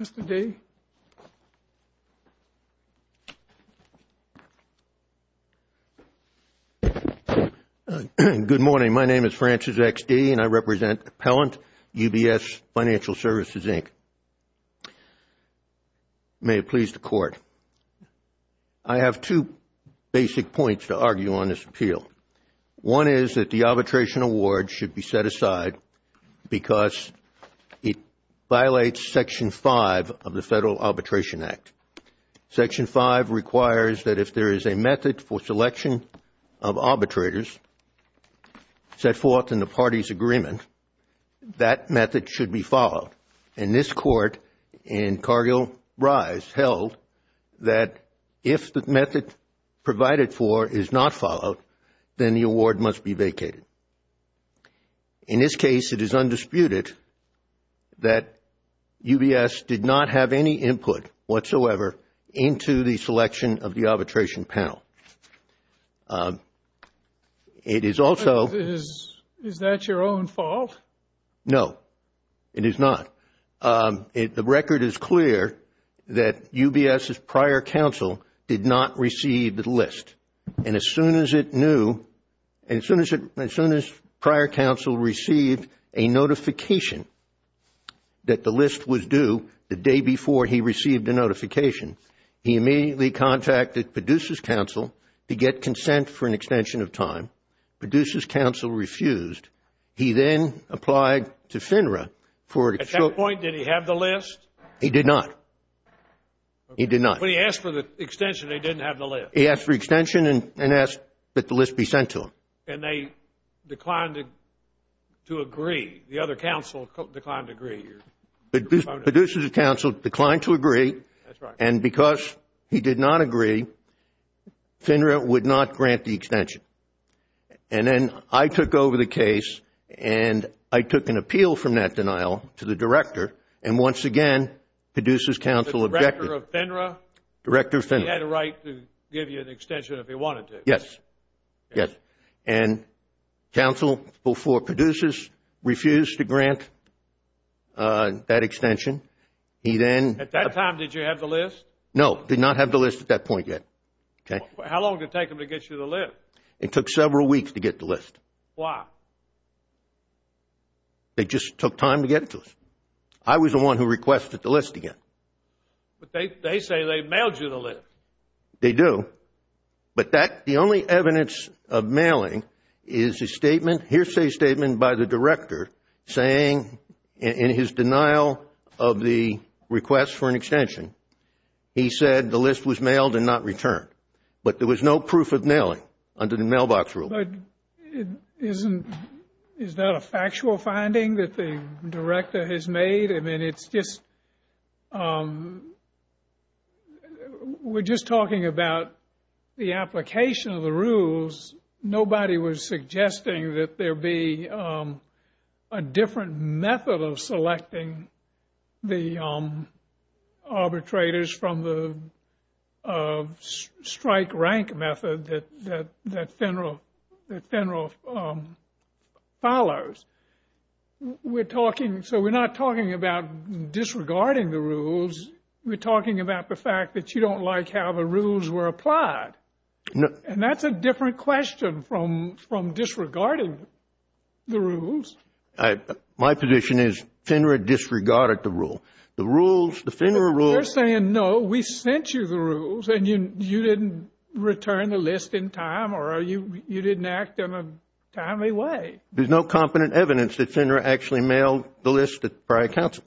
Mr. D. Good morning. My name is Francis X. D. and I represent Appellant UBS Financial Services, Inc. May it please the Court, I have two basic points to argue on this appeal. One is that the arbitration award should be set aside because it violates Section 5 of the Federal Arbitration Act. Section 5 requires that if there is a method for selection of arbitrators set forth in the party's agreement, that method should be followed. And this Court in Cargill-Rise held that if the method provided for is not followed, the arbitration award should be set aside. In this case, it is undisputed that UBS did not have any input whatsoever into the selection of the arbitration panel. Is that your own fault? No, it is not. The record is clear that UBS's prior counsel did not receive the list. And as soon as it knew, as soon as prior counsel received a notification that the list was due the day before he received the notification, he immediately contacted Padussis' counsel to get consent for an extension of time. Padussis' counsel refused. He then applied to FINRA for... At that point, did he have the list? He did not. When he asked for the extension, they didn't have the list. He asked for extension and asked that the list be sent to him. And they declined to agree. The other counsel declined to agree. Padussis' counsel declined to agree, and because he did not agree, FINRA would not grant the extension. And then I took over the case, and I took an appeal from that denial to the director. And once again, Padussis' counsel objected. The director of FINRA? He had a right to give you an extension if he wanted to. Yes. And counsel, before Padussis, refused to grant that extension. At that time, did you have the list? No, did not have the list at that point yet. How long did it take them to get you the list? It took several weeks to get the list. Why? They just took time to get it to us. He said the list was mailed and not returned. But there was no proof of mailing under the mailbox rule. But is that a factual finding that the director has made? I mean, it's just, we're just talking about the application of the rules. Nobody was suggesting that there be a different method of selecting the arbitrators from the strike-rank method that FINRA follows. We're talking, so we're not talking about disregarding the rules. We're talking about the fact that you don't like how the rules were applied. And that's a different question from disregarding the rules. My position is FINRA disregarded the rule. They're saying, no, we sent you the rules, and you didn't return the list in time, or you didn't act in a timely way. There's no competent evidence that FINRA actually mailed the list to prior counsel.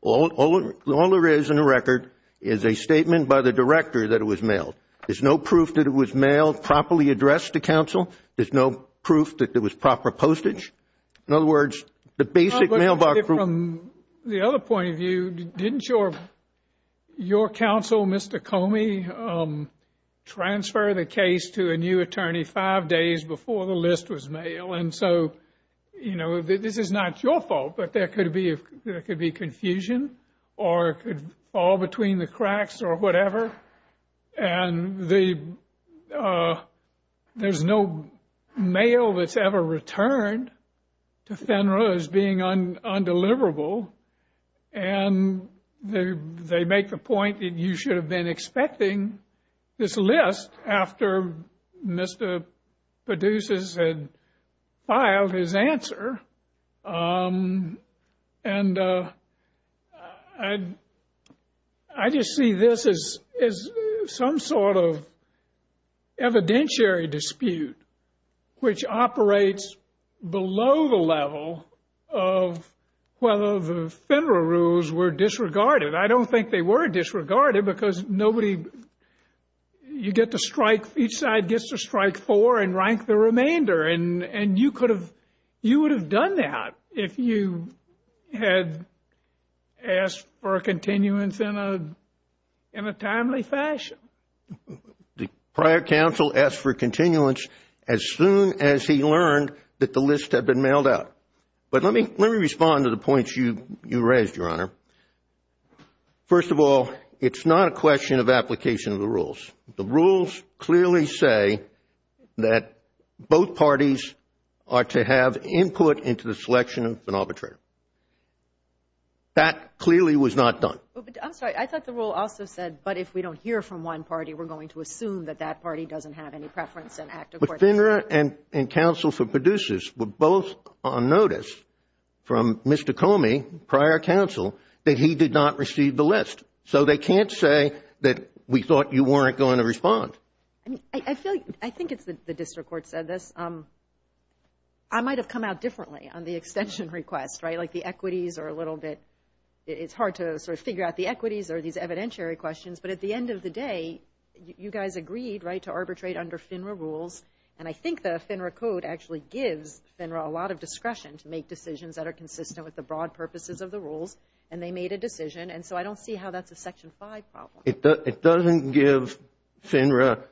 All there is in the record is a statement by the director that it was mailed. There's no proof that it was mailed properly addressed to counsel. There's no proof that it was proper postage. In other words, the basic mailbox rule. From the other point of view, didn't your counsel, Mr. Comey, transfer the case to a new attorney five days before the list was mailed? And so, you know, this is not your fault, but there could be confusion or it could fall between the cracks or whatever. And there's no mail that's ever returned to FINRA as being undeliverable. And they make the point that you should have been expecting this list after Mr. Produces had filed his answer. And I just see this as some sort of evidentiary dispute, which operates below the level of whether the FINRA rules were disregarded. I don't think they were disregarded because nobody, you get to strike, each side gets to strike four and rank the remainder. And you would have done that if you had asked for a continuance in a timely fashion. The prior counsel asked for continuance as soon as he learned that the list had been mailed out. But let me respond to the points you raised, Your Honor. First of all, it's not a question of application of the rules. The rules clearly say that both parties are to have input into the selection of an arbitrator. That clearly was not done. I'm sorry. I thought the rule also said, but if we don't hear from one party, we're going to assume that that party doesn't have any preference and act accordingly. But FINRA and counsel for Producers were both on notice from Mr. Comey, prior counsel, that he did not receive the list. So they can't say that we thought you weren't going to respond. I think it's the district court said this. I might have come out differently on the extension request, right? Like the equities are a little bit, it's hard to sort of figure out the equities or these evidentiary questions. But at the end of the day, you guys agreed, right, to arbitrate under FINRA rules. And I think the FINRA code actually gives FINRA a lot of discretion to make decisions that are consistent with the broad purposes of the rules. And they made a decision. And so I don't see how that's a Section 5 problem. It doesn't give FINRA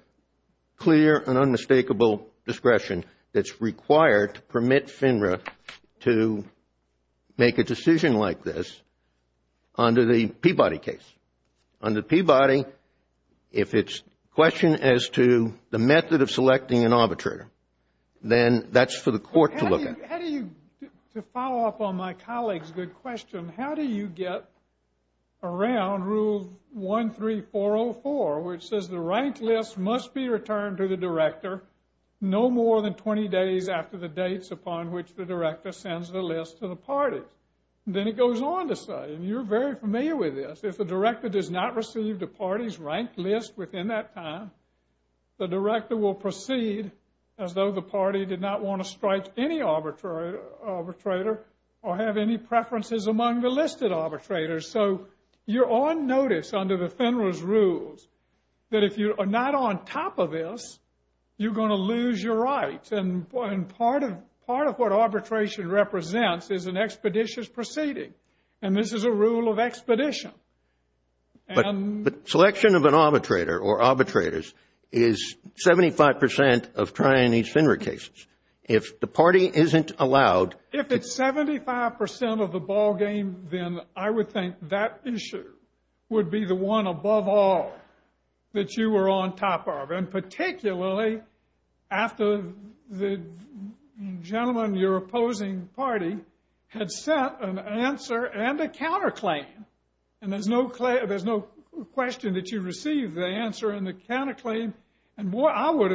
clear and unmistakable discretion that's required to permit FINRA to make a decision like this under the Peabody case. Under Peabody, if it's a question as to the method of selecting an arbitrator, then that's for the court to look at. To follow up on my colleague's good question, how do you get around Rule 13404, which says the ranked list must be returned to the director no more than 20 days after the dates upon which the director sends the list to the party? Then it goes on to say, and you're very familiar with this, if the director does not receive the party's ranked list within that time, the director will proceed as though the party did not want to strike any arbitrator or have any preferences among the listed arbitrators. So you're on notice under the FINRA's rules that if you are not on top of this, you're going to lose your rights. And part of what arbitration represents is an expeditious proceeding. And this is a rule of expedition. But selection of an arbitrator or arbitrators is 75% of trying these FINRA cases. If the party isn't allowed... If it's 75% of the ballgame, then I would think that issue would be the one above all that you were on top of, and particularly after the gentleman in your opposing party had sent an answer and a counterclaim. And there's no question that you received the answer and the counterclaim. And boy, I would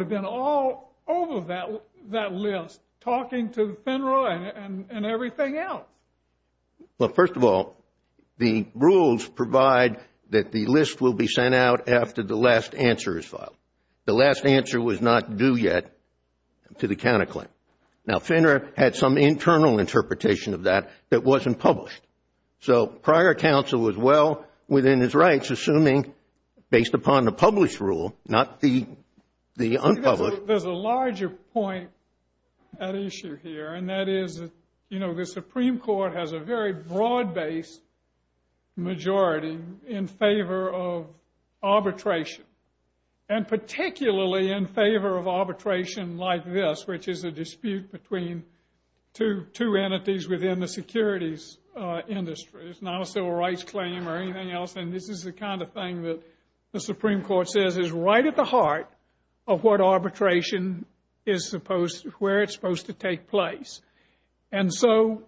have been all over that list talking to FINRA and everything else. Well, first of all, the rules provide that the list will be sent out after the last answer is filed. The last answer was not due yet to the counterclaim. Now, FINRA had some internal interpretation of that that wasn't published. So prior counsel was well within his rights, assuming based upon the published rule, not the unpublished. There's a larger point at issue here, and that is the Supreme Court has a very broad-based majority in favor of arbitration, and particularly in favor of arbitration like this, which is a dispute between two entities within the securities industry. It's not a civil rights claim or anything else, and this is the kind of thing that the Supreme Court says is right at the heart of what arbitration is supposed to... where it's supposed to take place. And so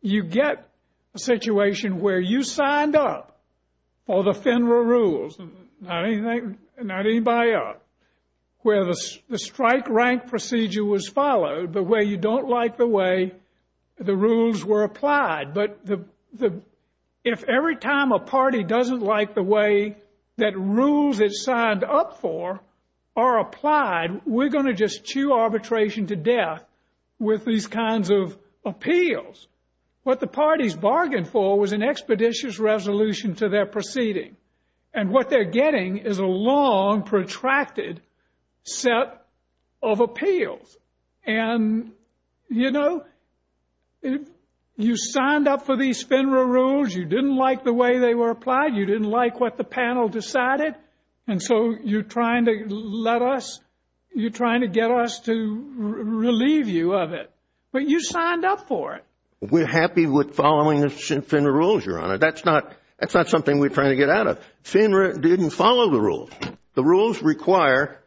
you get a situation where you signed up for the FINRA rules, and not anybody else, where the strike rank procedure was followed, but where you don't like the way the rules were applied. But if every time a party doesn't like the way that rules it signed up for are applied, we're going to just chew arbitration to death with these kinds of appeals. What the parties bargained for was an expeditious resolution to their proceeding, and what they're getting is a long, protracted set of appeals. And, you know, you signed up for these FINRA rules. You didn't like the way they were applied. You didn't like what the panel decided, and so you're trying to let us... you're trying to get us to relieve you of it. But you signed up for it. We're happy with following the FINRA rules, Your Honor. That's not something we're trying to get out of. FINRA didn't follow the rules. The rules require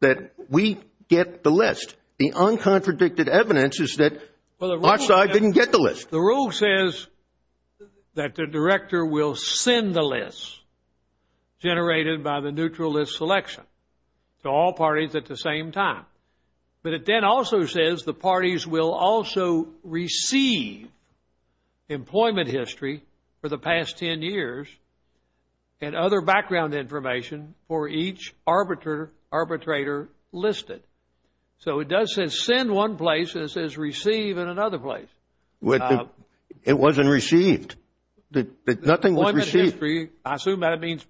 that we get the list. The uncontradicted evidence is that our side didn't get the list. The rule says that the director will send the list generated by the neutral list selection to all parties at the same time. But it then also says the parties will also receive employment history for the past 10 years and other background information for each arbitrator listed. So it does say send one place and it says receive in another place. It wasn't received. Nothing was received. Employment history, I assume that means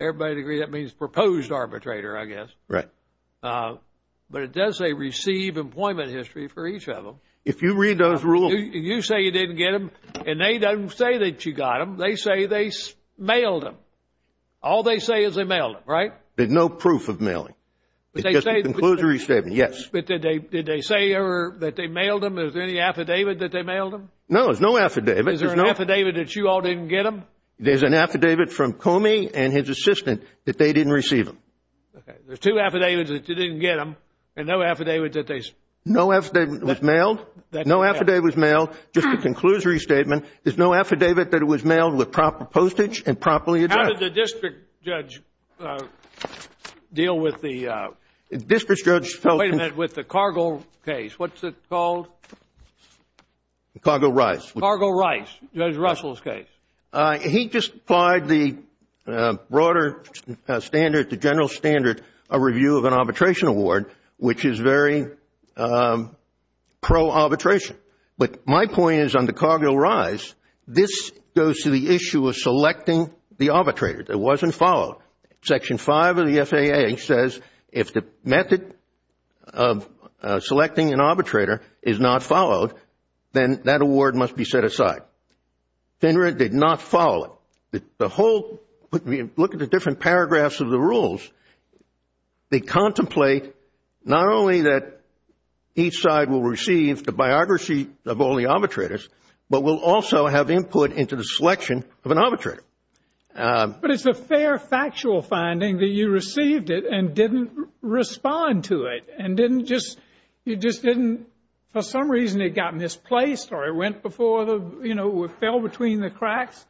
everybody would agree that means proposed arbitrator, I guess. Right. But it does say receive employment history for each of them. If you read those rules... You say you didn't get them, and they don't say that you got them. They say they mailed them. All they say is they mailed them, right? There's no proof of mailing. It's just a conclusory statement, yes. But did they say that they mailed them? Is there any affidavit that they mailed them? No, there's no affidavit. Is there an affidavit that you all didn't get them? There's an affidavit from Comey and his assistant that they didn't receive them. Okay. There's two affidavits that you didn't get them and no affidavit that they... No affidavit was mailed. No affidavit was mailed. Just a conclusory statement. There's no affidavit that was mailed with proper postage and properly addressed. How did the district judge deal with the... District judge... Wait a minute, with the Cargill case. What's it called? Cargill-Rice. Cargill-Rice, Judge Russell's case. He just applied the broader standard, the general standard, a review of an arbitration award, which is very pro-arbitration. But my point is on the Cargill-Rice, this goes to the issue of selecting the arbitrator that wasn't followed. Section 5 of the FAA says if the method of selecting an arbitrator is not followed, then that award must be set aside. ThinRed did not follow it. The whole... Look at the different paragraphs of the rules. They contemplate not only that each side will receive the biography of all the arbitrators, but will also have input into the selection of an arbitrator. But it's a fair factual finding that you received it and didn't respond to it and didn't just... For some reason, it got misplaced or it went before the... You know, it fell between the cracks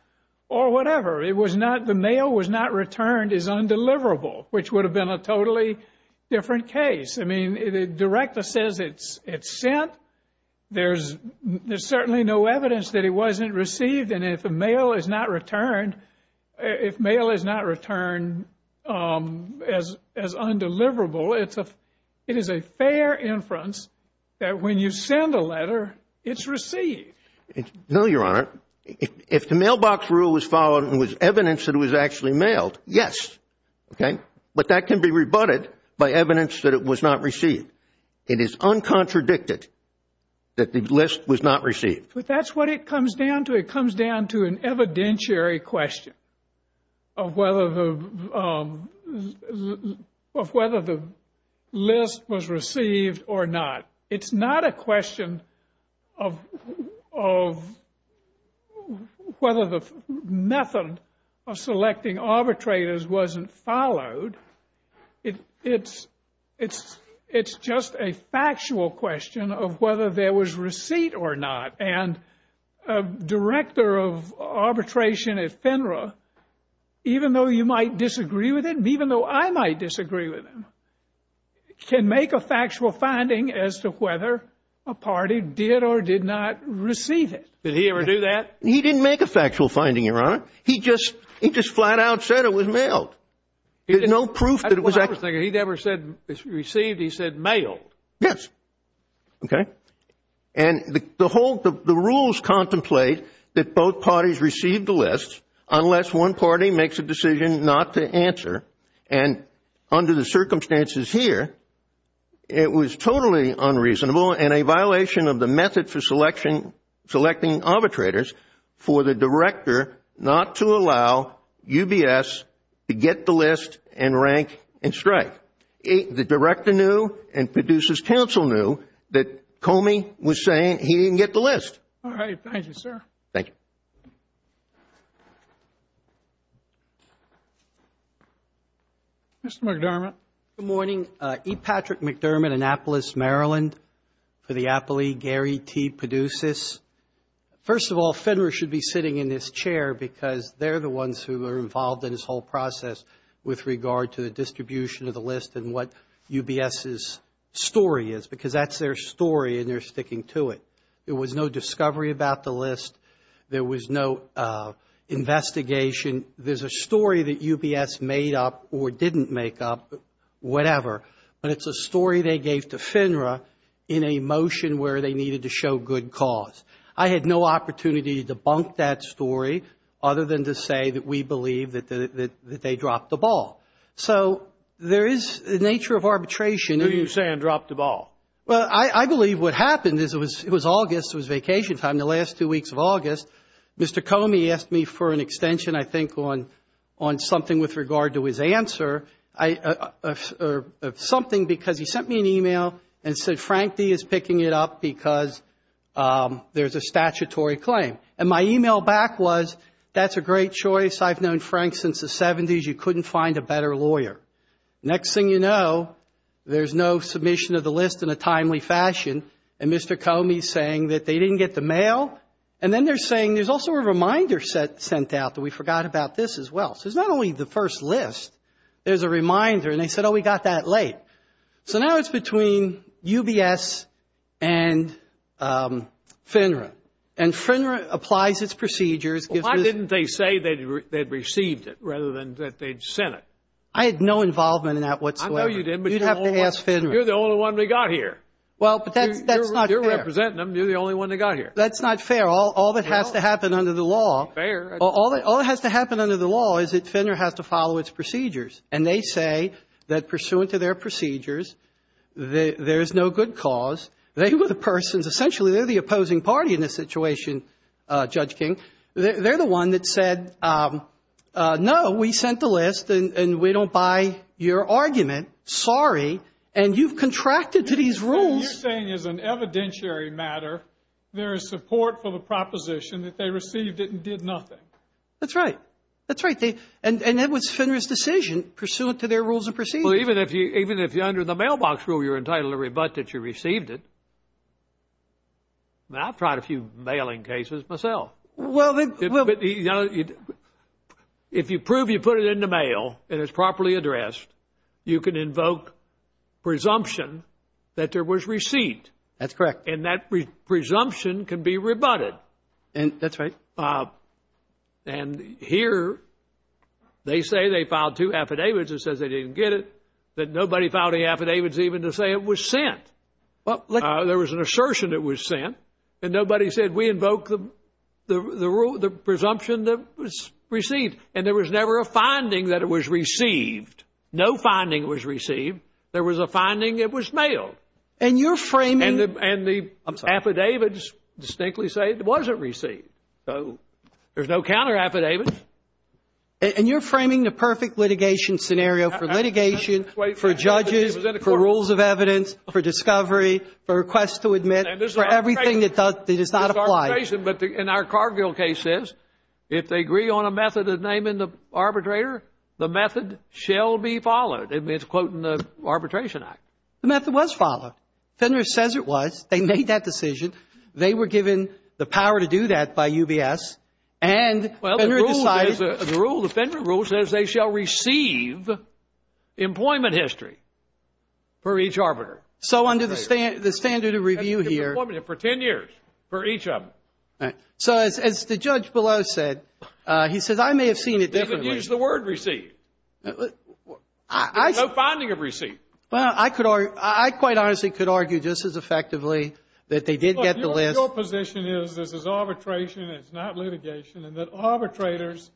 or whatever. It was not... The mail was not returned as undeliverable, which would have been a totally different case. I mean, it directly says it's sent. There's certainly no evidence that it wasn't received. And if the mail is not returned, if mail is not returned as undeliverable, it is a fair inference that when you send a letter, it's received. No, Your Honor. If the mailbox rule was followed and was evidence that it was actually mailed, yes. Okay? But that can be rebutted by evidence that it was not received. It is uncontradicted that the list was not received. But that's what it comes down to. It comes down to an evidentiary question of whether the list was received or not. It's not a question of whether the method of selecting arbitrators wasn't followed. It's just a factual question of whether there was receipt or not. And a director of arbitration at FINRA, even though you might disagree with him, even though I might disagree with him, can make a factual finding as to whether a party did or did not receive it. Did he ever do that? He didn't make a factual finding, Your Honor. He just flat out said it was mailed. There's no proof that it was actually... That's what I was thinking. He never said it was received. He said mailed. Yes. Okay? And the rules contemplate that both parties receive the list unless one party makes a decision not to answer. And under the circumstances here, it was totally unreasonable and a violation of the method for selecting arbitrators for the director not to allow UBS to get the list and rank and strike. But the director knew and Peduce's counsel knew that Comey was saying he didn't get the list. All right. Thank you, sir. Thank you. Mr. McDermott. Good morning. E. Patrick McDermott, Annapolis, Maryland, for the Apple League. Gary T. Peduces. First of all, FINRA should be sitting in this chair because they're the ones who are involved in this whole process with regard to the distribution of the list and what UBS's story is because that's their story and they're sticking to it. There was no discovery about the list. There was no investigation. There's a story that UBS made up or didn't make up, whatever, but it's a story they gave to FINRA in a motion where they needed to show good cause. I had no opportunity to debunk that story other than to say that we believe that they dropped the ball. So there is the nature of arbitration. Who are you saying dropped the ball? Well, I believe what happened is it was August, it was vacation time, the last two weeks of August. Mr. Comey asked me for an extension, I think, on something with regard to his answer or something because he sent me an email and said Frank D. is picking it up because there's a statutory claim. And my email back was, that's a great choice. I've known Frank since the 70s. You couldn't find a better lawyer. Next thing you know, there's no submission of the list in a timely fashion and Mr. Comey's saying that they didn't get the mail. And then they're saying there's also a reminder sent out that we forgot about this as well. So it's not only the first list. There's a reminder. And they said, oh, we got that late. So now it's between UBS and FINRA. And FINRA applies its procedures. Well, why didn't they say they'd received it rather than that they'd sent it? I had no involvement in that whatsoever. I know you didn't, but you're the only one. You'd have to ask FINRA. You're the only one that got here. Well, but that's not fair. You're representing them. You're the only one that got here. That's not fair. All that has to happen under the law. Fair. All that has to happen under the law is that FINRA has to follow its procedures. And they say that pursuant to their procedures, there is no good cause. They were the persons, essentially they're the opposing party in this situation, Judge King. They're the one that said, no, we sent the list and we don't buy your argument. Sorry. And you've contracted to these rules. What you're saying is an evidentiary matter. There is support for the proposition that they received it and did nothing. That's right. That's right. And that was FINRA's decision, pursuant to their rules and procedures. Well, even if you're under the mailbox rule, you're entitled to rebut that you received it. I've tried a few mailing cases myself. Well, then. If you prove you put it in the mail and it's properly addressed, you can invoke presumption that there was receipt. That's correct. And that presumption can be rebutted. And that's right. And here they say they filed two affidavits. It says they didn't get it. That nobody filed the affidavits even to say it was sent. There was an assertion it was sent. And nobody said we invoke the rule, the presumption that was received. And there was never a finding that it was received. No finding was received. There was a finding it was mailed. And you're framing. And the affidavits distinctly say it wasn't received. So there's no counter affidavits. And you're framing the perfect litigation scenario for litigation, for judges, for rules of evidence, for discovery, for requests to admit, for everything that does not apply. But in our Cargill case, if they agree on a method of naming the arbitrator, the method shall be followed. I mean, it's quoting the Arbitration Act. The method was followed. Fenner says it was. They made that decision. They were given the power to do that by UBS. And Fenner decided. Well, the rule, the Fenner rule says they shall receive employment history for each arbitrator. So under the standard of review here. For 10 years for each of them. So as the judge below said, he says I may have seen it differently. He didn't use the word received. There's no finding of received. Well, I could argue, I quite honestly could argue just as effectively that they did get the list. Your position is, this is arbitration, it's not litigation, and that arbitrators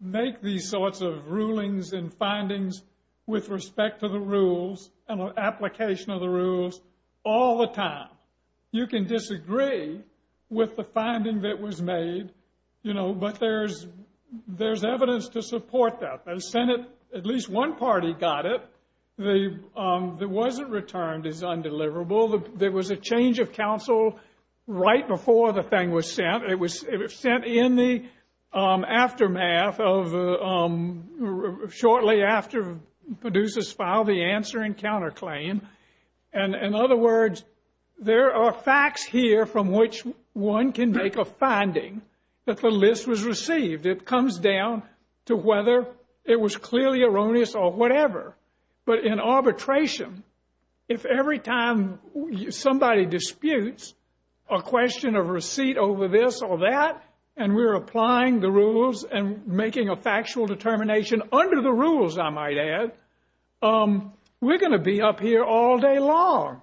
make these sorts of rulings and findings with respect to the rules and application of the rules all the time. You can disagree with the finding that was made, you know, but there's evidence to support that. The Senate, at least one party, got it. The one that wasn't returned is undeliverable. There was a change of counsel right before the thing was sent. It was sent in the aftermath of shortly after Peduce's file, the answer and counterclaim. And in other words, there are facts here from which one can make a finding that the list was received. It comes down to whether it was clearly erroneous or whatever. But in arbitration, if every time somebody disputes a question of receipt over this or that, and we're applying the rules and making a factual determination under the rules, I might add, we're going to be up here all day long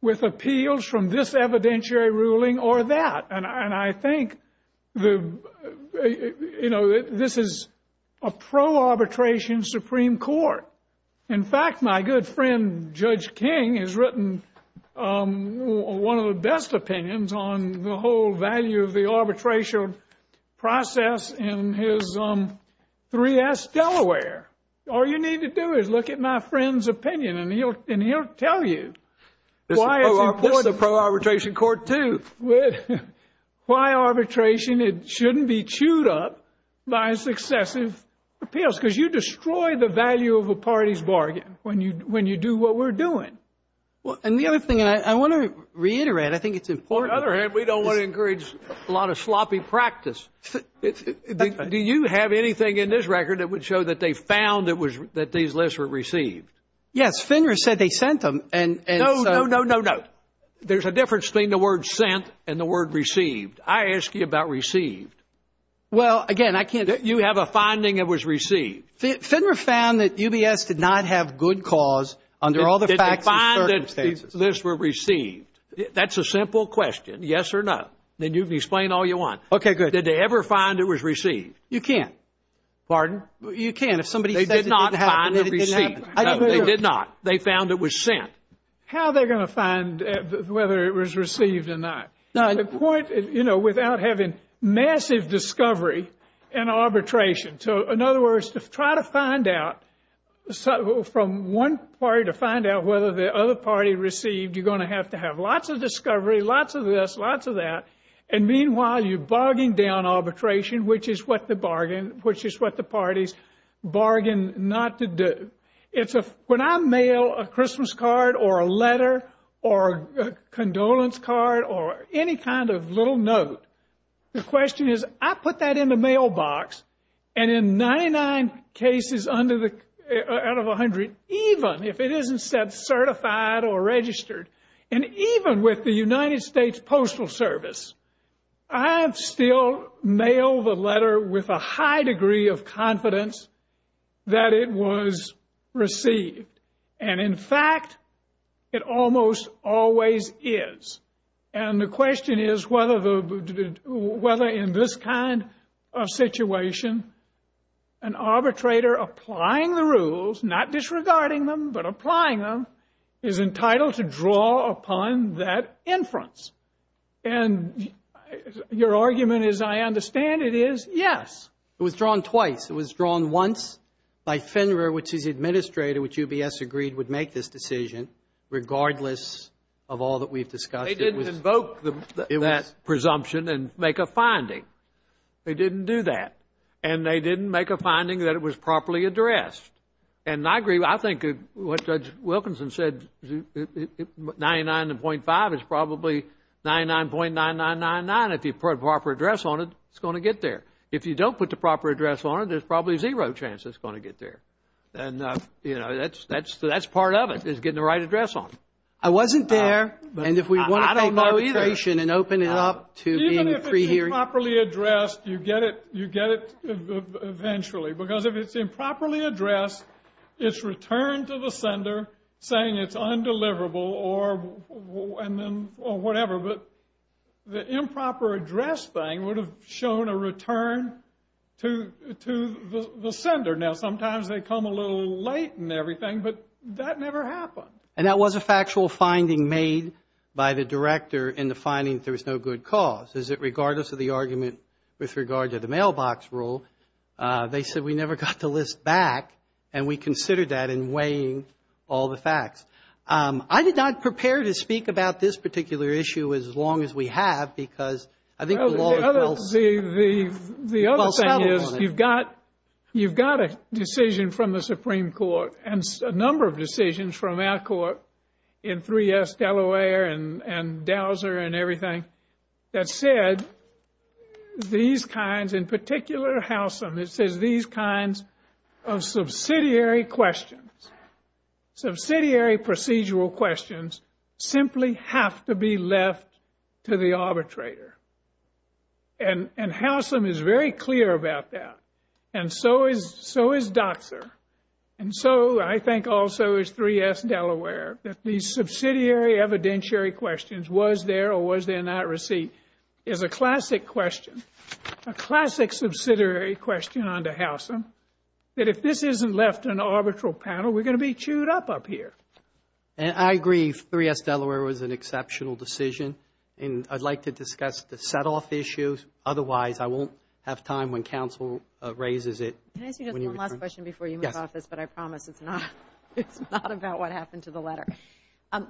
with appeals from this evidentiary ruling or that. And I think, you know, this is a pro-arbitration Supreme Court. In fact, my good friend Judge King has written one of the best opinions on the whole value of the arbitration process in his 3S Delaware. All you need to do is look at my friend's opinion, and he'll tell you why it's important. That's a pro-arbitration court, too. Why arbitration, it shouldn't be chewed up by successive appeals, because you destroy the value of a party's bargain when you do what we're doing. And the other thing I want to reiterate, I think it's important. On the other hand, we don't want to encourage a lot of sloppy practice. Do you have anything in this record that would show that they found that these lists were received? Yes. Finner said they sent them. No, no, no, no, no. There's a difference between the word sent and the word received. I ask you about received. Well, again, I can't. You have a finding that was received. Finner found that UBS did not have good cause under all the facts and circumstances. Did they find that these lists were received? That's a simple question, yes or no. Then you can explain all you want. Okay, good. Did they ever find it was received? Pardon? You can't. If somebody says it didn't happen, it didn't happen. They did not find it received. No, they did not. They found it was sent. How are they going to find whether it was received or not? The point, you know, without having massive discovery and arbitration. So, in other words, to try to find out from one party to find out whether the other party received, you're going to have to have lots of discovery, lots of this, lots of that. And meanwhile, you're barging down arbitration, which is what the parties bargain not to do. When I mail a Christmas card or a letter or a condolence card or any kind of little note, the question is, I put that in the mailbox, and in 99 cases out of 100, even if it isn't certified or registered, and even with the United States Postal Service, I have still mailed the letter with a high degree of confidence that it was received. And in fact, it almost always is. And the question is whether in this kind of situation, an arbitrator applying the rules, not disregarding them, but applying them, is entitled to draw upon that inference. And your argument is, I understand it is. Yes. It was drawn twice. It was drawn once by Fennerer, which his administrator, which UBS agreed would make this decision, regardless of all that we've discussed. They didn't invoke that presumption and make a finding. They didn't do that. And they didn't make a finding that it was properly addressed. And I agree. I think what Judge Wilkinson said, 99.5 is probably 99.9999. If you put a proper address on it, it's going to get there. If you don't put the proper address on it, there's probably zero chance it's going to get there. And, you know, that's part of it, is getting the right address on it. I wasn't there. And if we want to take arbitration and open it up to being pre-hearing. Even if it's improperly addressed, you get it eventually. Because if it's improperly addressed, it's returned to the sender saying it's undeliverable or whatever. But the improper address thing would have shown a return to the sender. Now, sometimes they come a little late and everything, but that never happened. And that was a factual finding made by the director in the finding that there was no good cause. Is it regardless of the argument with regard to the mailbox rule, they said we never got the list back. And we considered that in weighing all the facts. I did not prepare to speak about this particular issue as long as we have because I think the law. The other thing is you've got a decision from the Supreme Court and a number of decisions from our court in 3S Delaware and Dowser and everything that said these kinds, in particular, Howsam, it says these kinds of subsidiary questions, subsidiary procedural questions, simply have to be left to the arbitrator. And Howsam is very clear about that. And so is Doxer. And so I think also is 3S Delaware, that these subsidiary evidentiary questions, was there or was there not receipt, is a classic question, a classic subsidiary question on to Howsam, that if this isn't left to an arbitral panel, we're going to be chewed up up here. And I agree 3S Delaware was an exceptional decision. And I'd like to discuss the set-off issues. Otherwise, I won't have time when counsel raises it. Can I ask you just one last question before you move off this? But I promise it's not about what happened to the letter.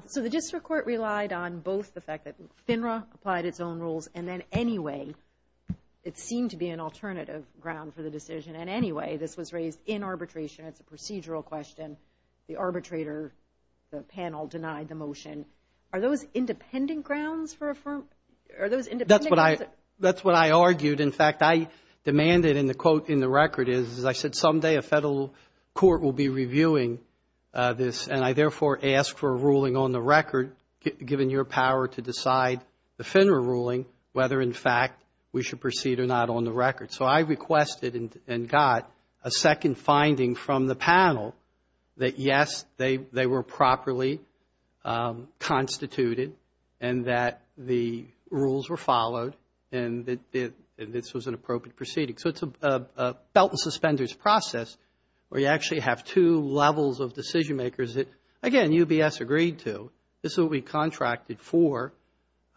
So the district court relied on both the fact that FINRA applied its own rules and then anyway it seemed to be an alternative ground for the decision. And anyway, this was raised in arbitration. It's a procedural question. The arbitrator, the panel denied the motion. Are those independent grounds for a firm? That's what I argued. In fact, I demanded in the quote in the record is, as I said, someday a federal court will be reviewing this, and I therefore ask for a ruling on the record, given your power to decide the FINRA ruling, whether in fact we should proceed or not on the record. So I requested and got a second finding from the panel that, yes, they were properly constituted and that the rules were followed and that this was an appropriate proceeding. So it's a belt and suspenders process where you actually have two levels of decision makers that, again, UBS agreed to. This is what we contracted for.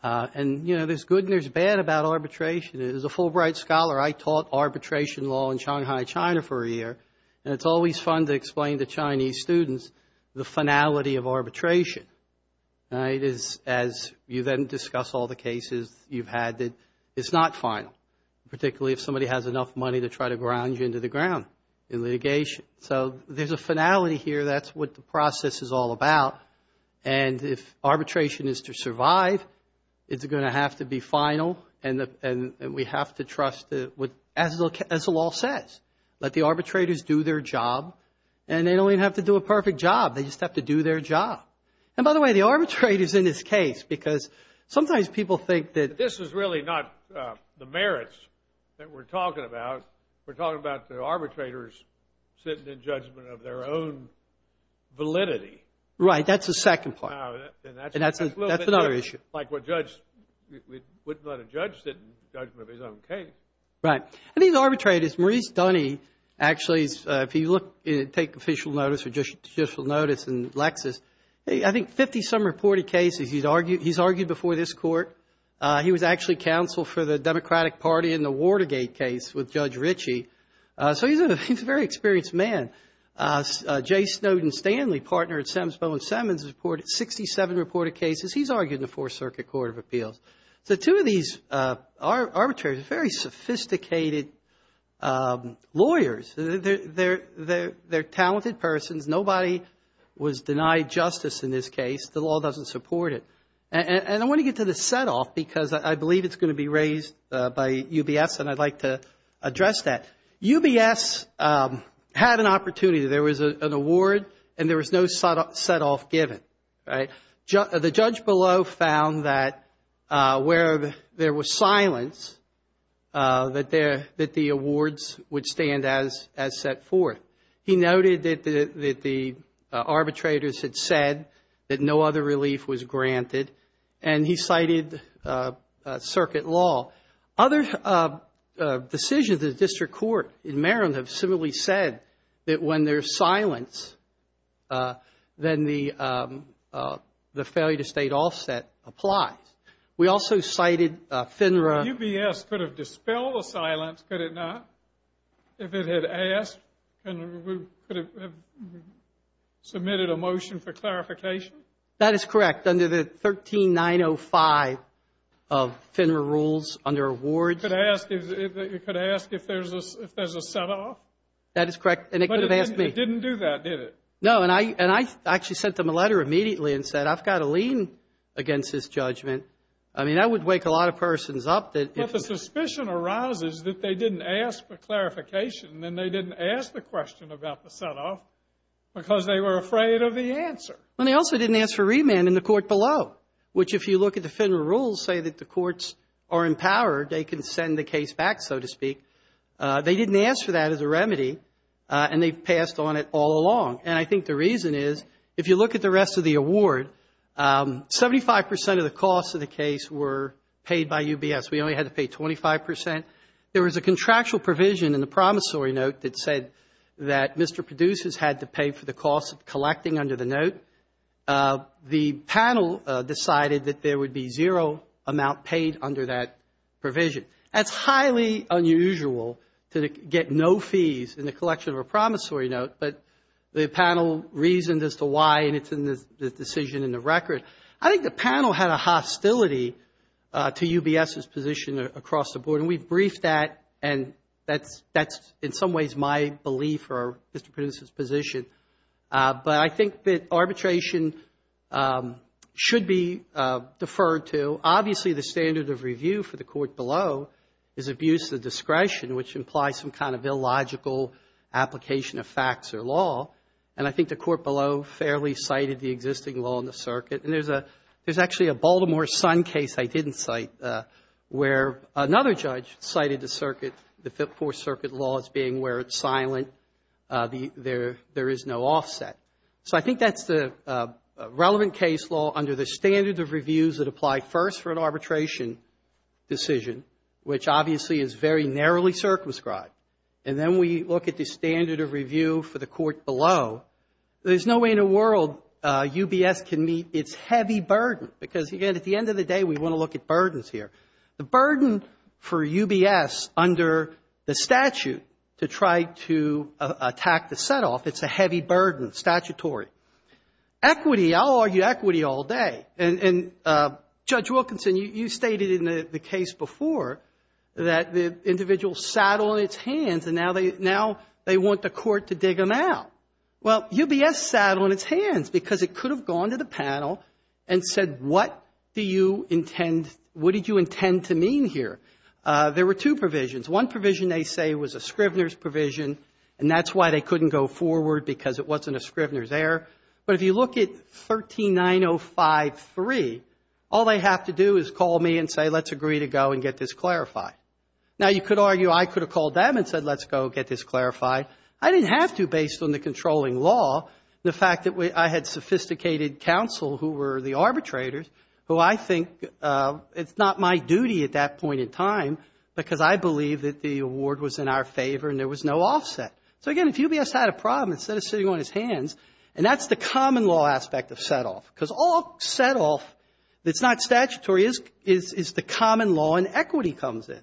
And, you know, there's good and there's bad about arbitration. As a Fulbright scholar, I taught arbitration law in Shanghai, China, for a year, and it's always fun to explain to Chinese students the finality of arbitration. It is, as you then discuss all the cases you've had, that it's not final, particularly if somebody has enough money to try to ground you into the ground in litigation. So there's a finality here. That's what the process is all about. And if arbitration is to survive, it's going to have to be final, and we have to trust, as the law says, let the arbitrators do their job, and they don't even have to do a perfect job. They just have to do their job. And, by the way, the arbitrator's in this case because sometimes people think that this is really not the merits that we're talking about. We're talking about the arbitrators sitting in judgment of their own validity. Right. That's the second part. And that's another issue. Like we wouldn't let a judge sit in judgment of his own case. Right. And these arbitrators, Maurice Dunne, actually, if you look and take official notice or judicial notice in Lexis, I think 50-some reported cases he's argued before this court. He was actually counsel for the Democratic Party in the Watergate case with Judge Ritchie. So he's a very experienced man. Jay Snowden Stanley, partner at Sam's Bowen Simmons, reported 67 reported cases. He's argued in the Fourth Circuit Court of Appeals. So two of these arbitrators are very sophisticated lawyers. They're talented persons. Nobody was denied justice in this case. The law doesn't support it. And I want to get to the setoff because I believe it's going to be raised by UBS and I'd like to address that. UBS had an opportunity. There was an award and there was no setoff given. Right. The judge below found that where there was silence, that the awards would stand as set forth. He noted that the arbitrators had said that no other relief was granted. And he cited circuit law. Other decisions of the district court in Maryland have similarly said that when there's silence, then the failure to state offset applies. We also cited FINRA. UBS could have dispelled the silence, could it not? If it had asked, could it have submitted a motion for clarification? That is correct. Under the 13905 of FINRA rules under awards. It could ask if there's a setoff? That is correct. And it could have asked me. But it didn't do that, did it? No. And I actually sent them a letter immediately and said, I've got to lean against this judgment. I mean, that would wake a lot of persons up. But the suspicion arises that they didn't ask for clarification and they didn't ask the question about the setoff because they were afraid of the answer. And they also didn't ask for remand in the court below, which if you look at the FINRA rules say that the courts are empowered, they can send the case back, so to speak. They didn't ask for that as a remedy and they passed on it all along. And I think the reason is, if you look at the rest of the award, 75% of the costs of the case were paid by UBS. We only had to pay 25%. There was a contractual provision in the promissory note that said that Mr. Produce has had to pay for the cost of collecting under the note. The panel decided that there would be zero amount paid under that provision. That's highly unusual to get no fees in the collection of a promissory note, but the panel reasoned as to why and it's in the decision in the record. I think the panel had a hostility to UBS's position across the board, and we briefed that and that's in some ways my belief or Mr. Produce's position. But I think that arbitration should be deferred to. Obviously, the standard of review for the court below is abuse of discretion, which implies some kind of illogical application of facts or law. And I think the court below fairly cited the existing law in the circuit. And there's actually a Baltimore Sun case I didn't cite where another judge cited the circuit, the Fifth Court circuit laws being where it's silent, there is no offset. So I think that's the relevant case law under the standard of reviews that apply first for an arbitration decision, which obviously is very narrowly circumscribed. And then we look at the standard of review for the court below. There's no way in the world UBS can meet its heavy burden because, again, at the end of the day, we want to look at burdens here. The burden for UBS under the statute to try to attack the set-off, it's a heavy burden statutory. Equity, I'll argue equity all day. And, Judge Wilkinson, you stated in the case before that the individual sat on its hands and now they want the court to dig them out. Well, UBS sat on its hands because it could have gone to the panel and said, what do you intend, what did you intend to mean here? There were two provisions. One provision they say was a Scrivener's provision, and that's why they couldn't go forward because it wasn't a Scrivener's error. But if you look at 139053, all they have to do is call me and say, let's agree to go and get this clarified. Now, you could argue I could have called them and said, let's go get this clarified. I didn't have to based on the controlling law, the fact that I had sophisticated counsel who were the arbitrators, who I think it's not my duty at that point in time because I believe that the award was in our favor and there was no offset. So, again, if UBS had a problem, instead of sitting on its hands, and that's the common law aspect of setoff, because all setoff that's not statutory is the common law and equity comes in.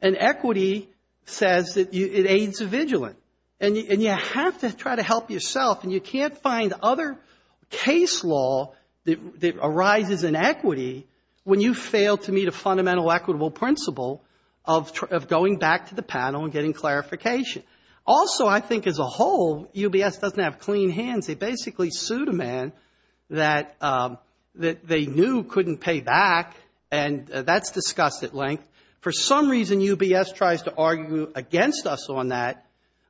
And equity says that it aids the vigilant. And you have to try to help yourself, and you can't find other case law that arises in equity when you fail to meet a fundamental equitable principle of going back to the panel and getting clarification. Also, I think as a whole, UBS doesn't have clean hands. They basically sued a man that they knew couldn't pay back, and that's discussed at length. For some reason, UBS tries to argue against us on that.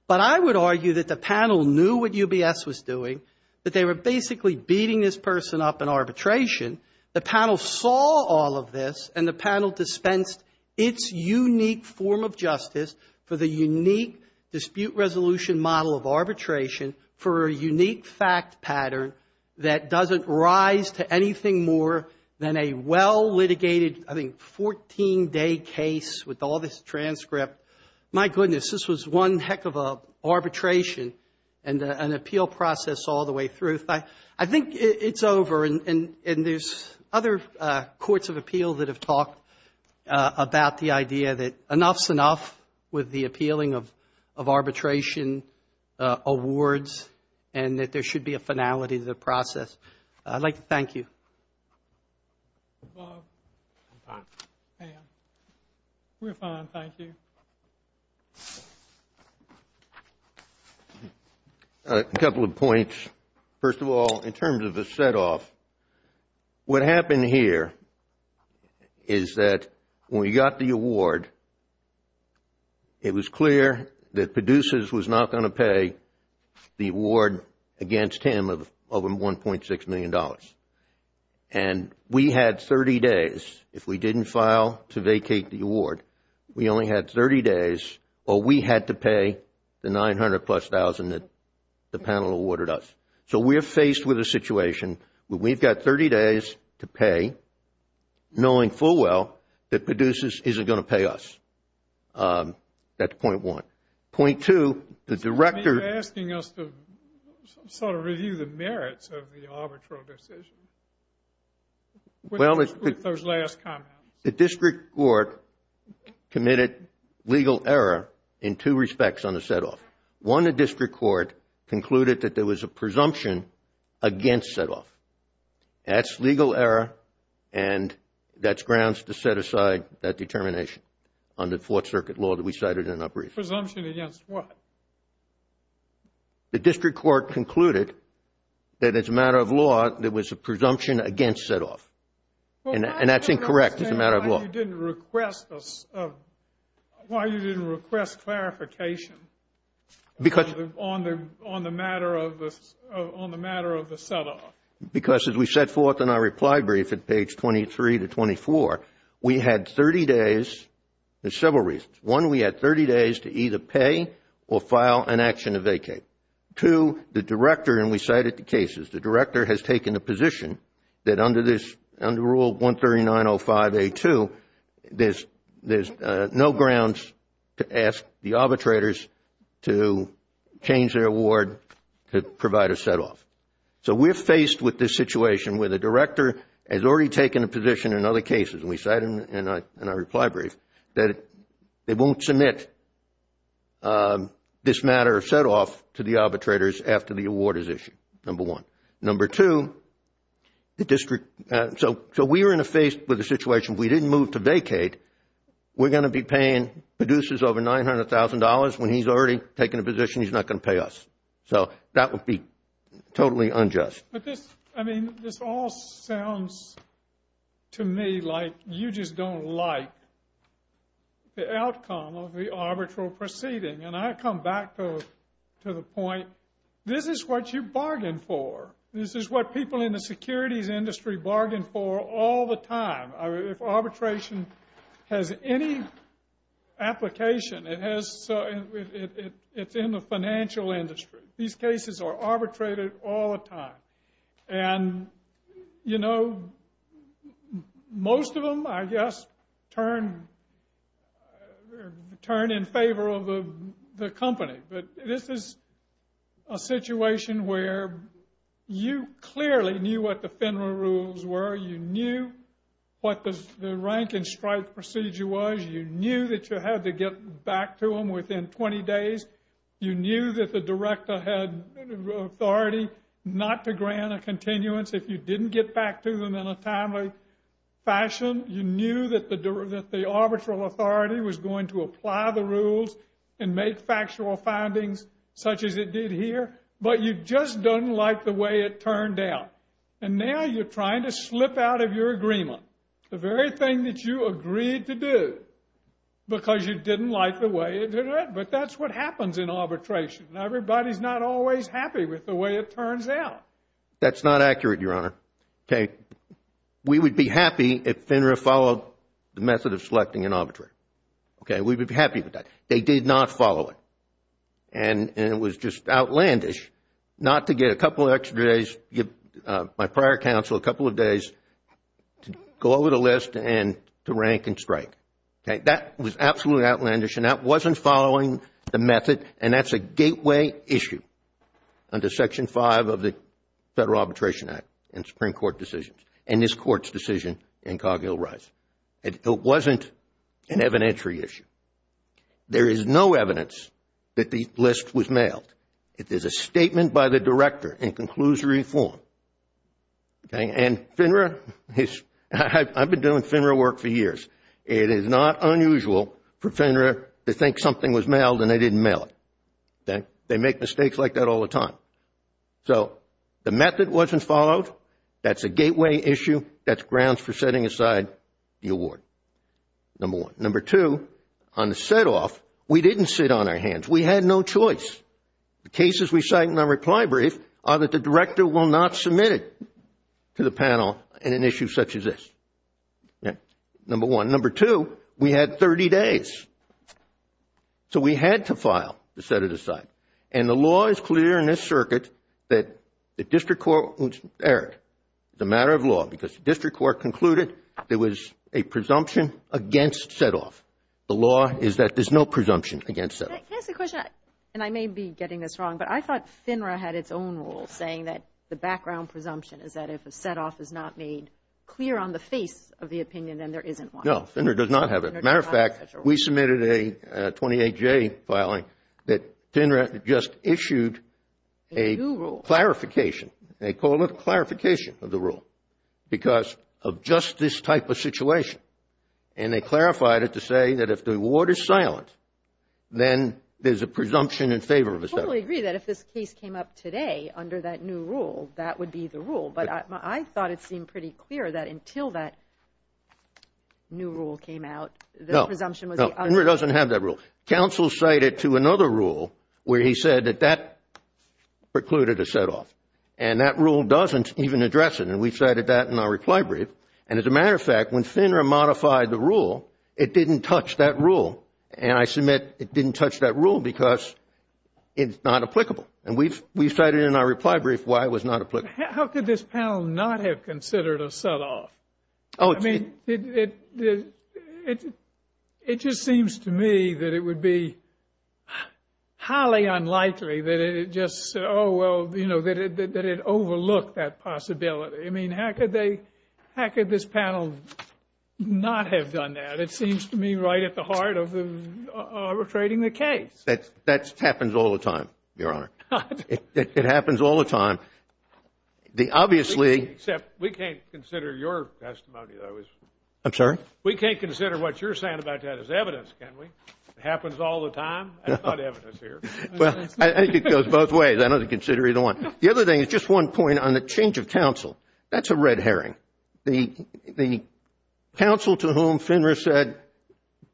But I would argue that the panel knew what UBS was doing, that they were basically beating this person up in arbitration. The panel saw all of this, and the panel dispensed its unique form of justice for the unique dispute resolution model of arbitration for a unique fact pattern that doesn't rise to anything more than a well-litigated, I think, 14-day case with all this transcript. My goodness, this was one heck of an arbitration and an appeal process all the way through. I think it's over, and there's other courts of appeal that have talked about the idea that enough's enough with the appealing of arbitration awards and that there should be a finality to the process. I'd like to thank you. Bob. I'm fine. Pam. We're fine, thank you. A couple of points. First of all, in terms of the setoff, what happened here is that when we got the award, it was clear that PEDUSAS was not going to pay the award against him of over $1.6 million. And we had 30 days. If we didn't file to vacate the award, we only had 30 days, or we had to pay the $900,000-plus that the panel awarded us. So we're faced with a situation where we've got 30 days to pay, knowing full well that PEDUSAS isn't going to pay us. That's point one. Point two, the director... You're asking us to sort of review the merits of the arbitral decision. With those last comments. The district court committed legal error in two respects on the setoff. One, the district court concluded that there was a presumption against setoff. That's legal error, and that's grounds to set aside that determination under Fourth Circuit law that we cited in our brief. Presumption against what? The district court concluded that it's a matter of law, there was a presumption against setoff. And that's incorrect, it's a matter of law. Why didn't you request clarification on the matter of the setoff? Because as we set forth in our reply brief at page 23 to 24, we had 30 days for several reasons. One, we had 30 days to either pay or file an action to vacate. Two, the director, and we cited the cases, the director has taken a position that under Rule 139.05a.2, there's no grounds to ask the arbitrators to change their award to provide a setoff. So we're faced with this situation where the director has already taken a position in other cases, and we cited in our reply brief, that they won't submit this matter of setoff to the arbitrators after the award is issued, number one. Number two, the district, so we were faced with a situation, we didn't move to vacate, we're going to be paying producers over $900,000 when he's already taken a position he's not going to pay us. So that would be totally unjust. But this, I mean, this all sounds to me like you just don't like the outcome of the arbitral proceeding. And I come back to the point, this is what you bargained for. This is what people in the securities industry bargain for all the time. If arbitration has any application, it's in the financial industry. These cases are arbitrated all the time. And, you know, most of them, I guess, turn in favor of the company. But this is a situation where you clearly knew what the FINRA rules were. You knew what the rank and strike procedure was. You knew that you had to get back to them within 20 days. You knew that the director had authority not to grant a continuance if you didn't get back to them in a timely fashion. You knew that the arbitral authority was going to apply the rules and make factual findings such as it did here. But you just don't like the way it turned out. And now you're trying to slip out of your agreement. The very thing that you agreed to do because you didn't like the way it did it. But that's what happens in arbitration. Everybody's not always happy with the way it turns out. That's not accurate, Your Honor. We would be happy if FINRA followed the method of selecting an arbitrator. We would be happy with that. They did not follow it. And it was just outlandish not to get a couple of extra days, my prior counsel a couple of days to go over the list and to rank and strike. That was absolutely outlandish and that wasn't following the method and that's a gateway issue under Section 5 of the Federal Arbitration Act and Supreme Court decisions and this Court's decision in Cargill-Rice. It wasn't an evidentiary issue. There is no evidence that the list was mailed. It is a statement by the director in conclusory form. It is not unusual for FINRA to think something was mailed and they didn't mail it. They make mistakes like that all the time. So the method wasn't followed. That's a gateway issue. That's grounds for setting aside the award, number one. Number two, on the set-off, we didn't sit on our hands. We had no choice. The cases we cite in our reply brief are that the director will not submit it to the panel in an issue such as this. Number one. Number two, we had 30 days. So we had to file to set it aside. And the law is clear in this circuit that the district court, Eric, it's a matter of law, because the district court concluded there was a presumption against set-off. The law is that there's no presumption against set-off. Can I ask a question? And I may be getting this wrong, but I thought FINRA had its own rule saying that the background presumption is that if a set-off is not made clear on the face of the opinion, then there isn't one. No, FINRA does not have it. As a matter of fact, we submitted a 28-J filing that FINRA just issued a clarification. They call it a clarification of the rule because of just this type of situation. And they clarified it to say that if the award is silent, then there's a presumption in favor of a set-off. I totally agree that if this case came up today under that new rule, that would be the rule. But I thought it seemed pretty clear that until that new rule came out, the presumption was the other one. No, no, FINRA doesn't have that rule. Counsel cited to another rule where he said that that precluded a set-off. And that rule doesn't even address it. And we cited that in our reply brief. And as a matter of fact, when FINRA modified the rule, it didn't touch that rule. And I submit it didn't touch that rule because it's not applicable. And we've cited in our reply brief why it was not applicable. How could this panel not have considered a set-off? I mean, it just seems to me that it would be highly unlikely that it just, oh, well, you know, that it overlooked that possibility. I mean, how could they, how could this panel not have done that? It seems to me right at the heart of the, of trading the case. That happens all the time, Your Honor. It happens all the time. The obviously. Except we can't consider your testimony, though. I'm sorry? We can't consider what you're saying about that as evidence, can we? It happens all the time. I've got evidence here. Well, I think it goes both ways. I don't think it's either one. The other thing is just one point on the change of counsel. That's a red herring. The counsel to whom Finner said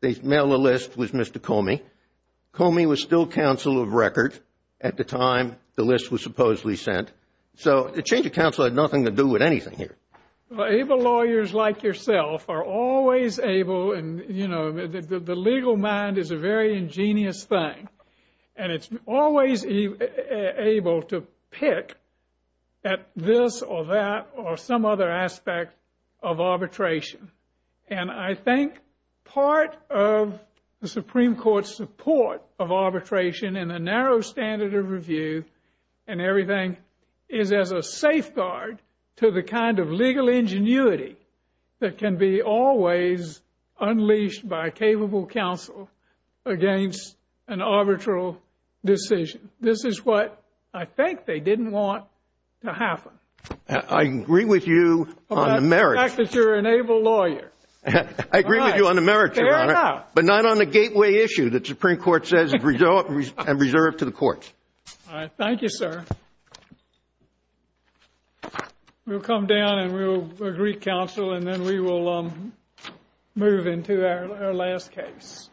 they'd mail the list was Mr. Comey. Comey was still counsel of record at the time the list was supposedly sent. So the change of counsel had nothing to do with anything here. Well, able lawyers like yourself are always able and, you know, the legal mind is a very ingenious thing. And it's always able to pick at this or that or some other aspect of arbitration. And I think part of the Supreme Court's support of arbitration in a narrow standard of review and everything is as a safeguard to the kind of legal ingenuity that can be always unleashed by a capable counsel against an arbitral decision. This is what I think they didn't want to happen. I agree with you on the merits. Well, that's the fact that you're an able lawyer. I agree with you on the merits, Your Honor. Fair enough. But not on the gateway issue that the Supreme Court says is reserved to the courts. All right. Thank you, sir. We'll come down and we'll agree counsel and then we will move into our last case.